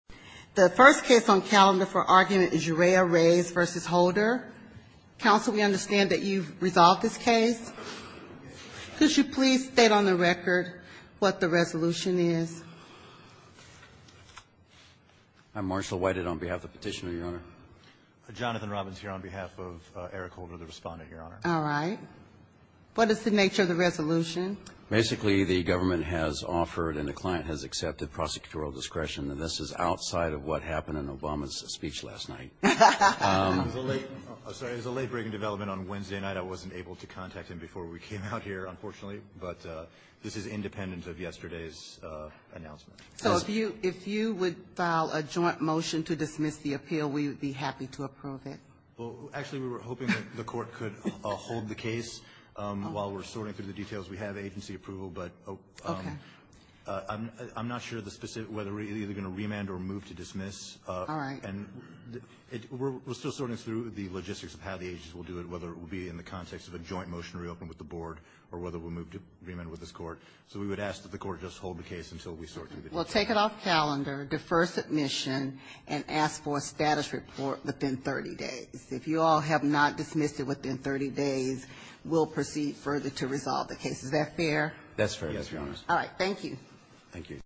The first case on calendar for argument is Urrea-Reyes v. Holder. Counsel, we understand that you've resolved this case. Could you please state on the record what the resolution is? I'm Marshall Whited on behalf of the Petitioner, Your Honor. Jonathan Robbins here on behalf of Eric Holder, the Respondent, Your Honor. All right. What is the nature of the resolution? Basically, the government has offered and the client has accepted prosecutorial discretion. This is outside of what happened in Obama's speech last night. I'm sorry. It was a late break in development on Wednesday night. I wasn't able to contact him before we came out here, unfortunately. But this is independent of yesterday's announcement. So if you would file a joint motion to dismiss the appeal, we would be happy to approve it. Well, actually, we were hoping that the Court could hold the case while we're sorting through the details. We have agency approval. But I'm not sure the specific whether we're either going to remand or move to dismiss. All right. And we're still sorting through the logistics of how the agency will do it, whether it will be in the context of a joint motion to reopen with the Board or whether we'll move to remand with this Court. So we would ask that the Court just hold the case until we sort through the details. Well, take it off calendar, defer submission, and ask for a status report within 30 days. If you all have not dismissed it within 30 days, we'll proceed further to resolve the case. Is that fair? That's fair. Yes, Your Honor. All right. Thank you. Thank you.